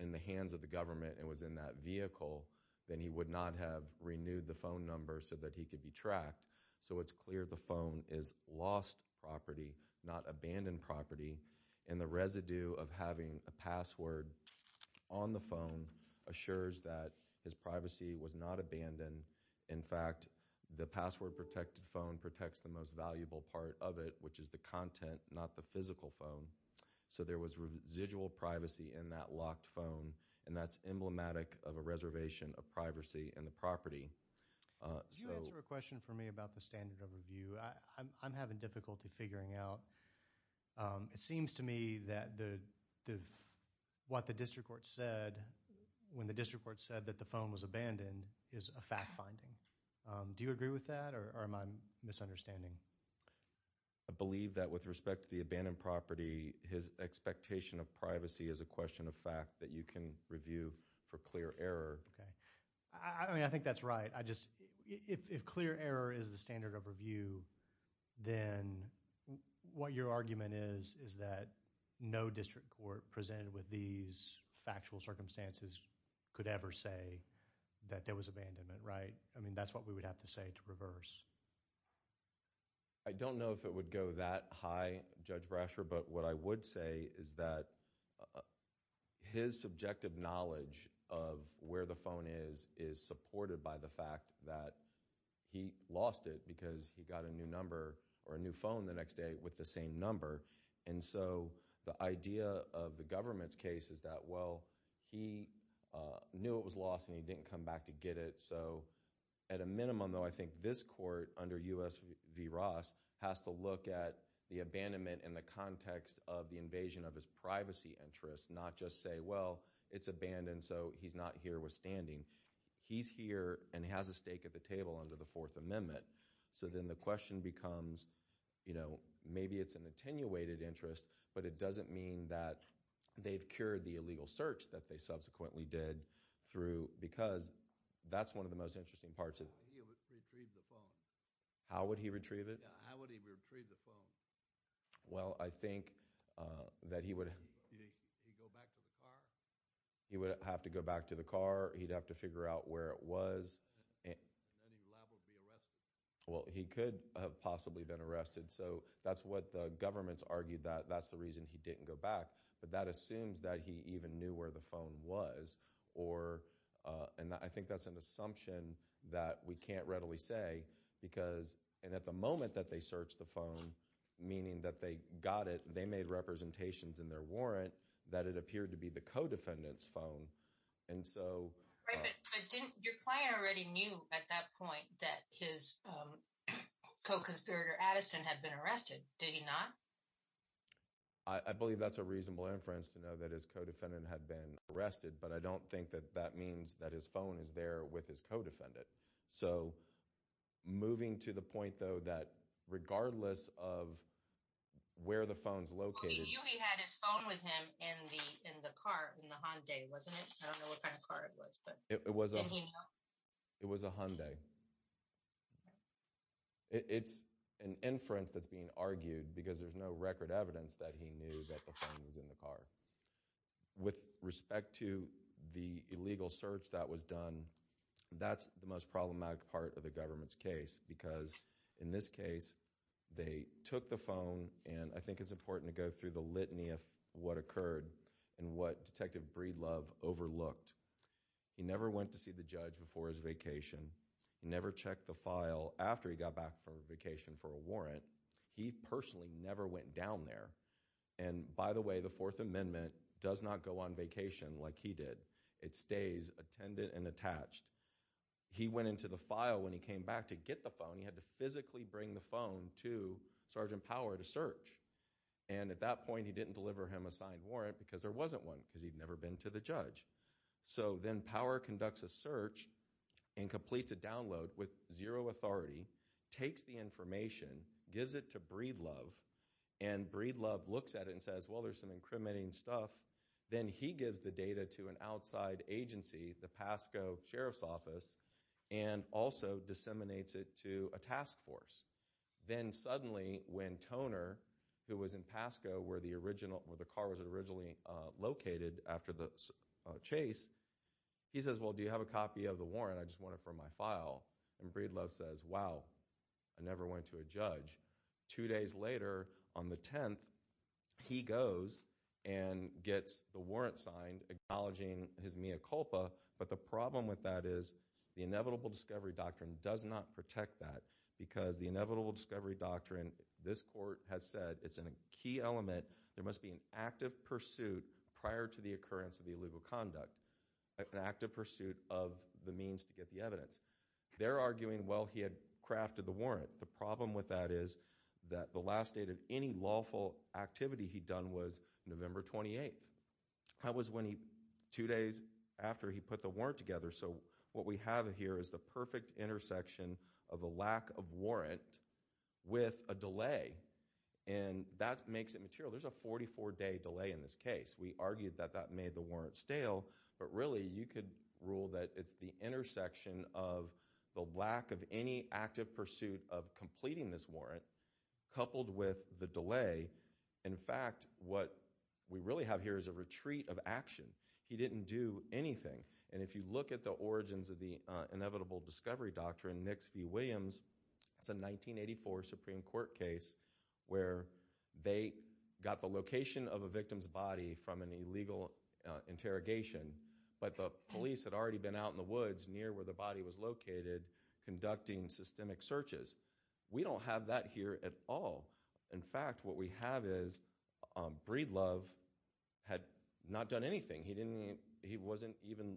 in the hands of the government and was in that vehicle, then he would not have renewed the phone number so that he could be tracked. So it's clear the phone is lost property, not abandoned property, and the residue of having a password on the phone assures that his privacy was not abandoned. In fact, the password-protected phone protects the most valuable part of it, which is the content, not the physical phone. So there was residual privacy in that locked phone, and that's emblematic of a reservation of privacy in the property. Can you answer a question for me about the standard of review? I'm having difficulty figuring out. It seems to me that what the district court said when the district court said that the phone was abandoned is a fact-finding. Do you agree with that, or am I misunderstanding? I believe that with respect to the abandoned property, his expectation of privacy is a question of fact that you can review for clear error. Okay. I mean, I think that's right. If clear error is the standard of review, then what your argument is is that no district court presented with these factual circumstances could ever say that there was abandonment, right? I mean, that's what we would have to say to reverse. I don't know if it would go that high, Judge Brasher, but what I would say is that his subjective knowledge of where the phone is is supported by the fact that he lost it because he got a new number or a new phone the next day with the same number. And so the idea of the government's case is that, well, he knew it was lost and he didn't come back to I think this court under U.S. v. Ross has to look at the abandonment in the context of the invasion of his privacy interests, not just say, well, it's abandoned, so he's not herewithstanding. He's here and has a stake at the table under the Fourth Amendment. So then the question becomes, you know, maybe it's an attenuated interest, but it doesn't mean that they've cured the illegal search that they subsequently did because that's one of the most interesting parts of it. How would he retrieve it? Well, I think that he would have to go back to the car. He'd have to figure out where it was. Well, he could have possibly been arrested. So that's what the government's argued that that's the reason he didn't go back. But that assumes that he even knew where the phone was. And I think that's an assumption that we can't readily say because, and at the moment that they searched the phone, meaning that they got it, they made representations in their warrant that it appeared to be the co-defendant's phone, and so Right, but didn't your client already knew at that point that his co-conspirator Addison had been arrested? Did he not? I believe that's a reasonable inference to know that his co-defendant had been arrested, but I don't think that that means that his phone is there with his co-defendant. So moving to the point, though, that regardless of where the phone's located Well, he knew he had his phone with him in the car, in the Hyundai, wasn't it? I don't know what kind of car it was, but didn't he know? It was a Hyundai. It's an inference that's being argued because there's no record evidence that he knew that the phone was in the car. With respect to the illegal search that was done, that's the most problematic part of the government's case because, in this case, they took the phone, and I think it's important to go through the litany of what occurred and what Detective Breedlove overlooked. He never went to see the judge before his vacation. He never checked the file after he got back from vacation for a warrant. He personally never went down there. And, by the way, the Fourth Amendment does not go on vacation like he did. It stays attended and attached. He went into the file when he came back to get the phone. He had to physically bring the phone to Sergeant Power to search, and at that point, he didn't deliver him a signed warrant because there wasn't one because he'd never been to the judge. So, then Power conducts a search and completes a download with zero authority, takes the information, gives it to Breedlove, and Breedlove looks at it and says, well, there's some incriminating stuff. Then he gives the data to an outside agency, the Pasco Sheriff's Office, and also disseminates it to a task force. Then, suddenly, when Toner, who was in Pasco where the car was originally located after the chase, he says, well, do you have a copy of the warrant? I just want it for my file. And Breedlove says, wow, I never went to a judge. Two days later, on the 10th, he goes and gets the warrant signed acknowledging his mea culpa, but the problem with that is the inevitable discovery doctrine does not protect that because the inevitable discovery doctrine, this court has said, it's a key element. There must be an active pursuit prior to the occurrence of the illegal conduct, an active pursuit of the means to get the evidence. They're arguing, well, he had crafted the warrant. The problem with that is that the last date of any lawful activity he'd done was November 28th. That was when he, two days after he got the warrant. So what we have here is the perfect intersection of a lack of warrant with a delay, and that makes it material. There's a 44-day delay in this case. We argued that that made the warrant stale, but really, you could rule that it's the intersection of the lack of any active pursuit of completing this warrant coupled with the delay. In fact, what we really have here is a retreat of action. He didn't do anything, and if you look at the origins of the inevitable discovery doctrine, Nix v. Williams, it's a 1984 Supreme Court case where they got the location of a victim's body from an illegal interrogation, but the police had already been out in the woods near where the body was located conducting systemic searches. We don't have that here at all. In fact, what we have is Breedlove had not done anything. He wasn't even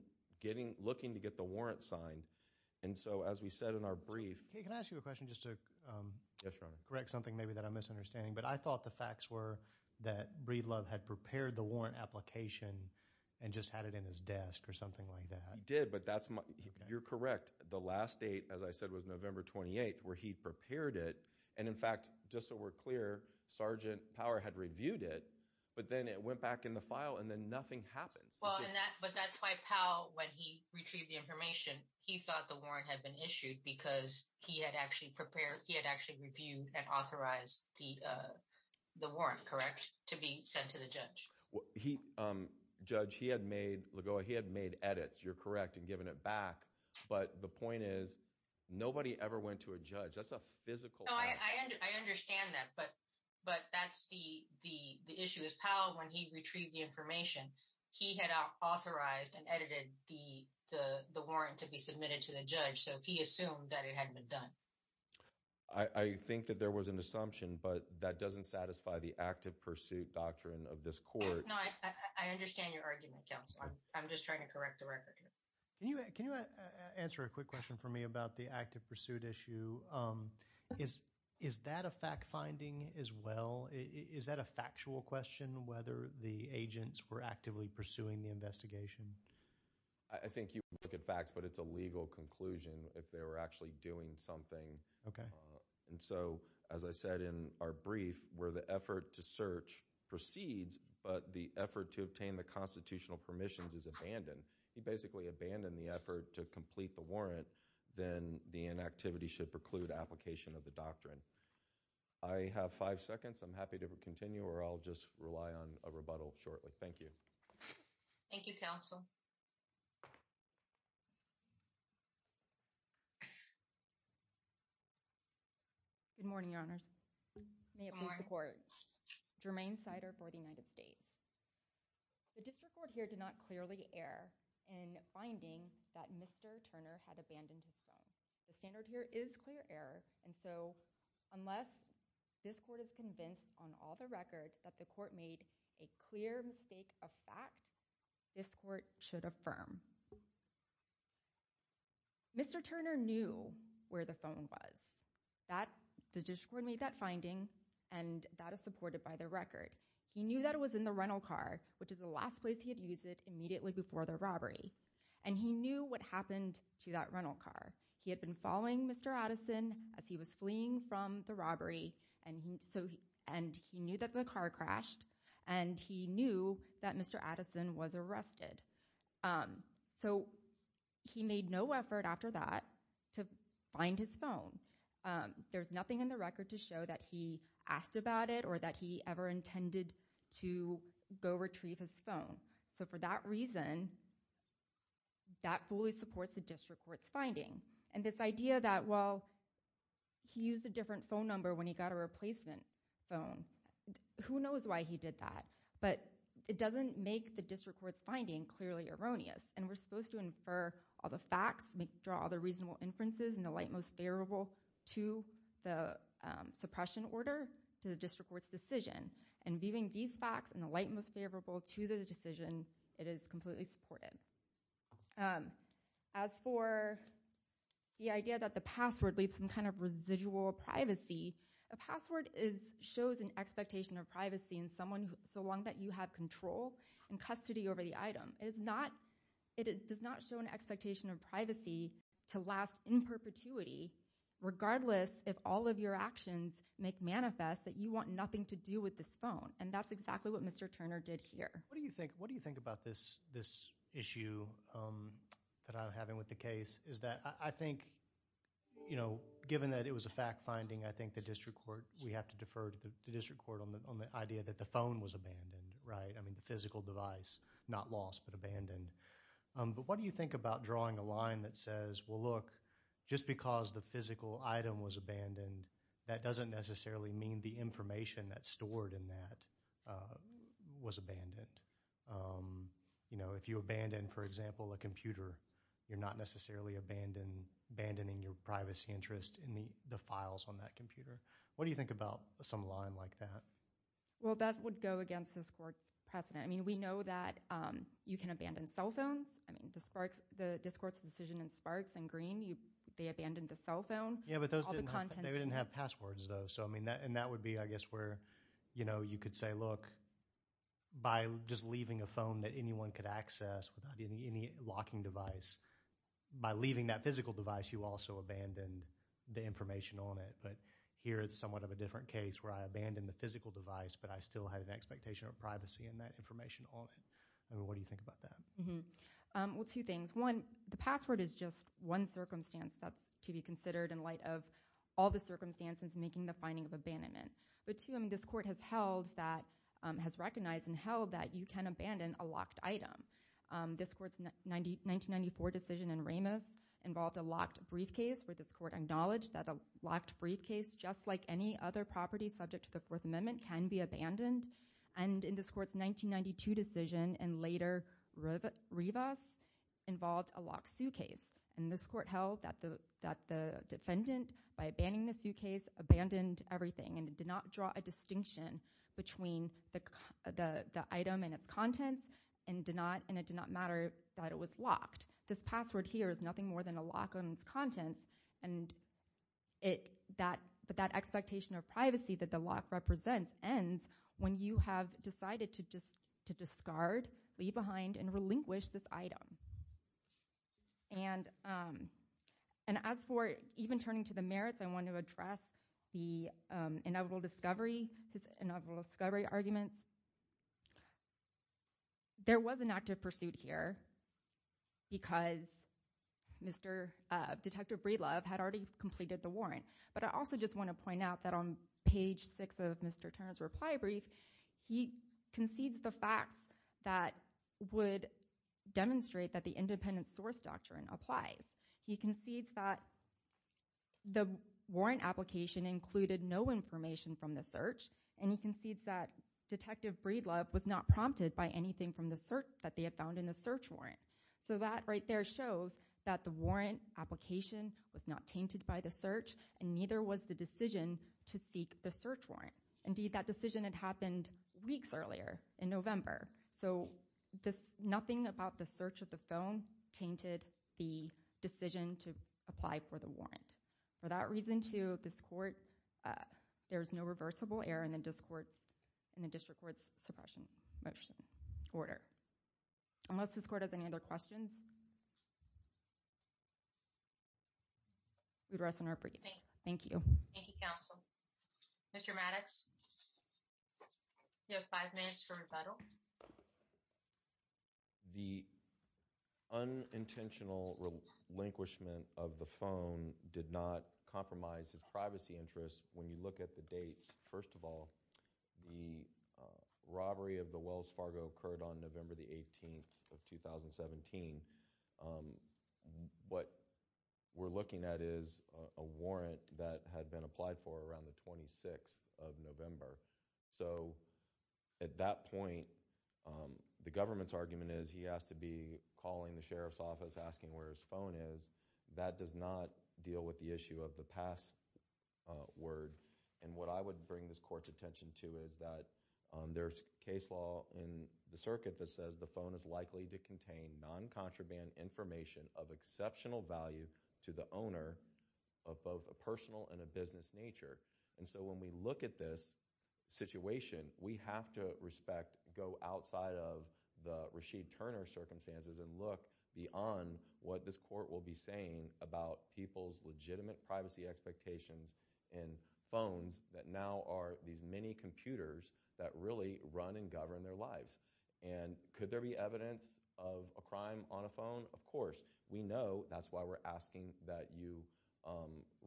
looking to get the warrant signed. And so, as we said in our brief... Can I ask you a question just to correct something maybe that I'm misunderstanding? But I thought the facts were that Breedlove had prepared the warrant application and just had it in his desk or something like that. He did, but you're correct. The last date, as I said, was November 28th, where he prepared it, and in fact, just so we're clear, Sergeant Power had reviewed it, but then it went back in the file, and then nothing happens. Well, but that's why Powell, when he retrieved the information, he thought the warrant had been issued because he had actually prepared, he had actually reviewed and authorized the warrant, correct, to be sent to the judge? Judge, he had made edits. You're correct in giving it back, but the point is nobody ever went to a judge. That's a physical fact. No, I understand that, but that's the issue. As Powell, when he retrieved the information, he had authorized and edited the warrant to be submitted to the judge, so he assumed that it hadn't been done. I think that there was an assumption, but that doesn't satisfy the active pursuit doctrine of this court. No, I understand your argument, Counsel. I'm just trying to correct the record here. Can you answer a quick question for me about the active pursuit issue? Is that a fact-finding as well? Is that a factual question, whether the agents were actively pursuing the investigation? I think you would look at facts, but it's a legal conclusion if they were actually doing something. Okay. And so, as I said in our brief, where the effort to search proceeds, but the effort to obtain the constitutional permissions is abandoned. He basically abandoned the effort to complete the warrant, then the inactivity should preclude application of the doctrine. I have five seconds. I'm happy to continue, or I'll just rely on a rebuttal shortly. Thank you. Thank you, Counsel. Good morning, Your Honors. May it please the Court. Jermaine Sider for the United States. The district court here did not clearly err in finding that Mr. Turner had abandoned his phone. The standard here is clear error, and so unless this court is convinced on all the record that the court made a clear mistake of fact, this court should affirm. Mr. Turner knew where the phone was. The district court made that finding, and that is supported by the record. He knew that it was in the rental car, which is the last place he had used it immediately before the robbery, and he knew what happened to that rental car. He had been following Mr. Addison as he was fleeing from the robbery, and he knew that the car crashed, and he knew that Mr. Addison was arrested. So, he made no effort after that to find his phone. There's nothing in the record to show that he asked about it or that he ever intended to go retrieve his phone. So, for that reason, that fully supports the district court's finding. And this idea that, well, he used a different phone number when he got a replacement phone, who knows why he did that? But it doesn't make the district court's finding clearly erroneous, and we're supposed to infer all the facts, draw all the reasonable inferences and the light most favorable to the suppression order to the district court's decision. And viewing these facts and the light most favorable to the decision, it is completely supported. As for the idea that the password leaves some kind of residual privacy, a password shows an expectation of privacy in someone so long that you have control and custody over the item. It does not show an expectation of privacy to last in perpetuity, regardless if all of your actions make manifest that you want nothing to do with this phone. And that's exactly what Mr. Turner did here. What do you think about this issue that I'm having with the case? I think, you know, given that it was a fact-finding, I think the district court, we have to defer to the district court on the idea that the phone was abandoned, right? I mean, the physical device, not lost but abandoned. But what do you think about drawing a line that says, well, look, just because the physical item was abandoned, that doesn't necessarily mean the information that's stored in that was abandoned. You know, if you abandon, for example, a computer, you're not necessarily abandoning your privacy interest in the files on that computer. What do you think about some line like that? Well, that would go against this court's precedent. I mean, we know that you can abandon cell phones. I mean, the district court's decision in Sparks and Green, they abandoned the cell phone. Yeah, but they didn't have passwords, though. So, I mean, and that would be, I guess, where, you know, you could say, look, by just leaving a phone that anyone could access without any locking device, by leaving that physical device, you also abandoned the information on it. But here, it's somewhat of a different case where I abandoned the physical device, but I still had an expectation of privacy in that information on it. What do you think about that? Well, two things. One, the password is just one circumstance that's to be considered in light of all the circumstances making the finding of abandonment. But two, I mean, this court has held that, has recognized and held that you can abandon a locked item. This court's 1994 decision in Ramos involved a locked briefcase where this court acknowledged that a locked briefcase, just like any other property subject to the Fourth Amendment, can be abandoned. And in this court's 1992 decision, and later Rivas, involved a locked suitcase. And this court held that the defendant, by abandoning the suitcase, abandoned everything and did not draw a distinction between the item and its contents and did not, and it did not matter that it was locked. This password here is nothing more than a lock on its contents, and it, that, but that expectation of privacy that the lock represents ends when you have decided to discard, leave behind, and relinquish this item. And as for even turning to the merits, I want to address the inevitable discovery, his inevitable pursuit here, because Mr., Detective Breedlove had already completed the warrant. But I also just want to point out that on page six of Mr. Turner's reply brief, he concedes the facts that would demonstrate that the independent source doctrine applies. He concedes that the warrant application included no information from the search, and he concedes that Detective Breedlove was not prompted by anything from the search, that they had found in the search warrant. So that right there shows that the warrant application was not tainted by the search, and neither was the decision to seek the search warrant. Indeed, that decision had happened weeks earlier, in November. So this, nothing about the search of the phone tainted the decision to apply for the warrant. For that reason, too, this court, there's no reversible error in the district court's suppression motion order. Unless this court has any other questions, we'd rest on our break. Thank you. Thank you, counsel. Mr. Maddox, you have five minutes for rebuttal. The unintentional relinquishment of the phone did not compromise his privacy interests when you look at the dates. First of all, the robbery of the Wells Fargo occurred on November the 18th of 2017. What we're looking at is a warrant that had been applied for around the 26th of November. So at that point, the government's argument is he has to be calling the sheriff's office, asking where his phone is. That does not deal with the issue of the password. What I would bring this court's attention to is that there's case law in the circuit that says the phone is likely to contain non-contraband information of exceptional value to the owner of both a personal and a business nature. So when we look at this situation, we have to respect, go outside of the Rasheed Turner circumstances and look beyond what this court will be saying about people's legitimate privacy expectations in phones that now are these many computers that really run and govern their lives. And could there be evidence of a crime on a phone? Of course. We know. That's why we're asking that you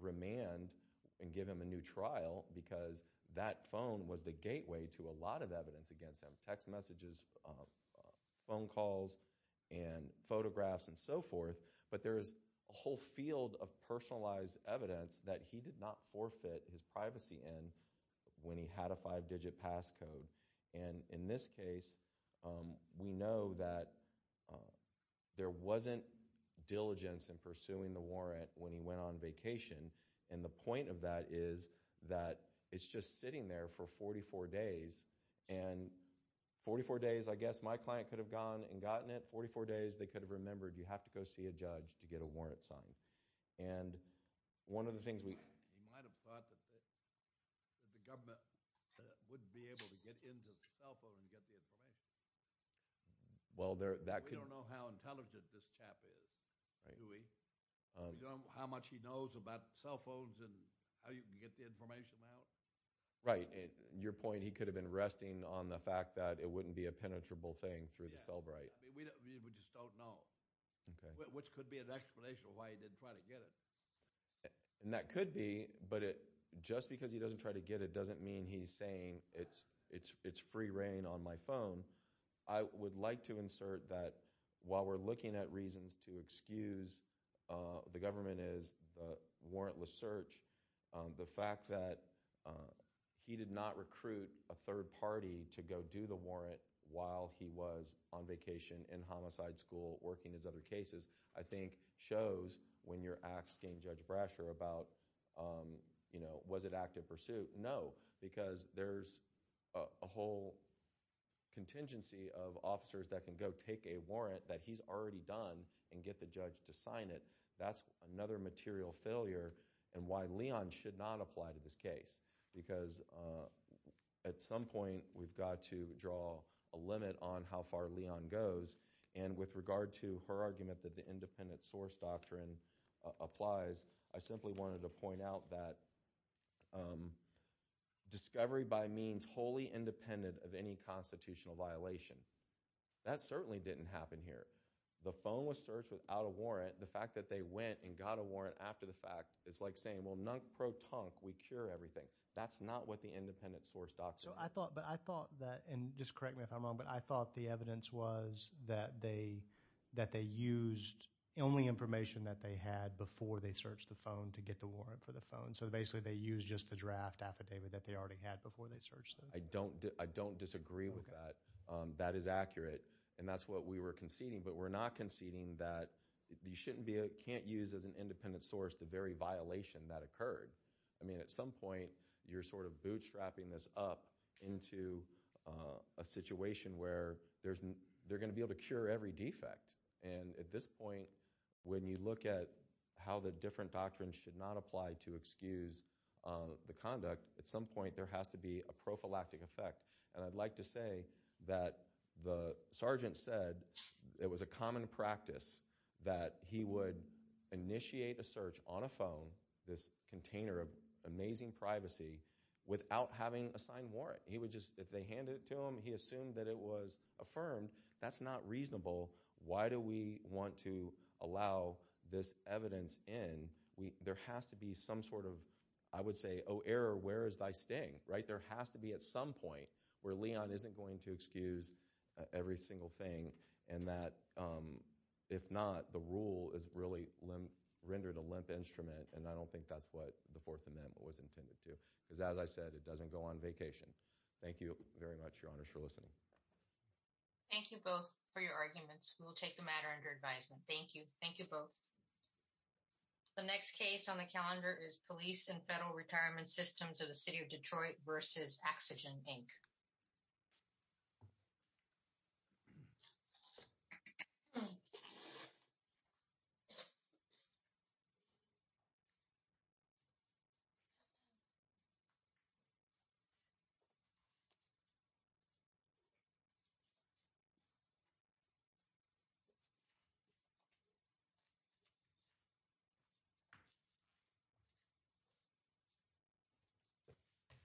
remand and give him a new trial, because that phone was the gateway to a lot of evidence against him. Text messages, phone calls, and photographs, and so forth. But there's a whole field of personalized evidence that he did not forfeit his privacy in when he had a five-digit passcode. In this case, we know that there wasn't diligence in pursuing the warrant when he went on vacation. And the point of that is that it's just sitting there for 44 days. And 44 days, I guess my client could have gone and gotten it. 44 days, they could have remembered, you have to go see a judge to get a warrant signed. And one of the things we He might have thought that the government wouldn't be able to get into the cell phone and get the information. We don't know how intelligent this chap is, do we? You don't know how much he knows about cell phones and how you can get the information out? Right. Your point, he could have been resting on the fact that it wouldn't be a penetrable thing through the cell bright. We just don't know. Which could be an explanation of why he didn't try to get it. And that could be, but just because he doesn't try to get it doesn't mean he's saying it's free reign on my phone. I would like to insert that while we're looking at reasons to excuse the government is warrantless search, the fact that he did not recruit a third party to go do the warrant while he was on vacation in homicide school working his other cases, I think shows when you're asking Judge Brasher about, was it active pursuit? No, because there's a whole contingency of officers that can go take a warrant that he's already done and get the judge to sign it. That's another material failure and why Leon should not apply to this case, because at some point we've got to draw a limit on how far Leon goes. And with regard to her argument that the independent source doctrine applies, I simply wanted to point out that discovery by means wholly independent of any constitutional violation, that certainly didn't happen here. The phone was searched without a warrant. The fact that they went and got a warrant after the fact is like saying, well, non-pro-tunk, we cure everything. That's not what the independent source doctrine is. So I thought, but I thought that, and just correct me if I'm wrong, but I thought the evidence was that they used only information that they had before they searched the phone to get the warrant for the phone. So basically they used just the draft affidavit that they already had before they searched it. I don't disagree with that. That is accurate. And that's what we were conceding, but we're not conceding that you shouldn't be, can't use as an independent source the very violation that occurred. I mean, at some point you're sort of bootstrapping this up into a situation where they're going to be able to cure every defect. And at this point, when you look at how the different doctrines should not apply to excuse the conduct, at some point there has to be a prophylactic effect. And I'd like to say that the sergeant said it was a common practice that he would initiate a search on a phone, this container of amazing privacy, without having a signed warrant. He would just, if they handed it to him, he assumed that it was affirmed. That's not reasonable. Why do we want to allow this evidence in? There has to be some sort of, I would say, oh, error, where is thy sting? There has to be at some point where Leon isn't going to excuse every single thing, and that if not, the rule is really rendered a limp instrument. And I don't think that's what the Fourth Amendment was intended to. Because as I said, it doesn't go on vacation. Thank you very much, Your Honors, for listening. Thank you both for your arguments. We will take the matter under advisement. Thank you. Thank you both. The next case on the calendar is Police and Federal Retirement Systems of the City of Detroit v. Oxygen, Inc.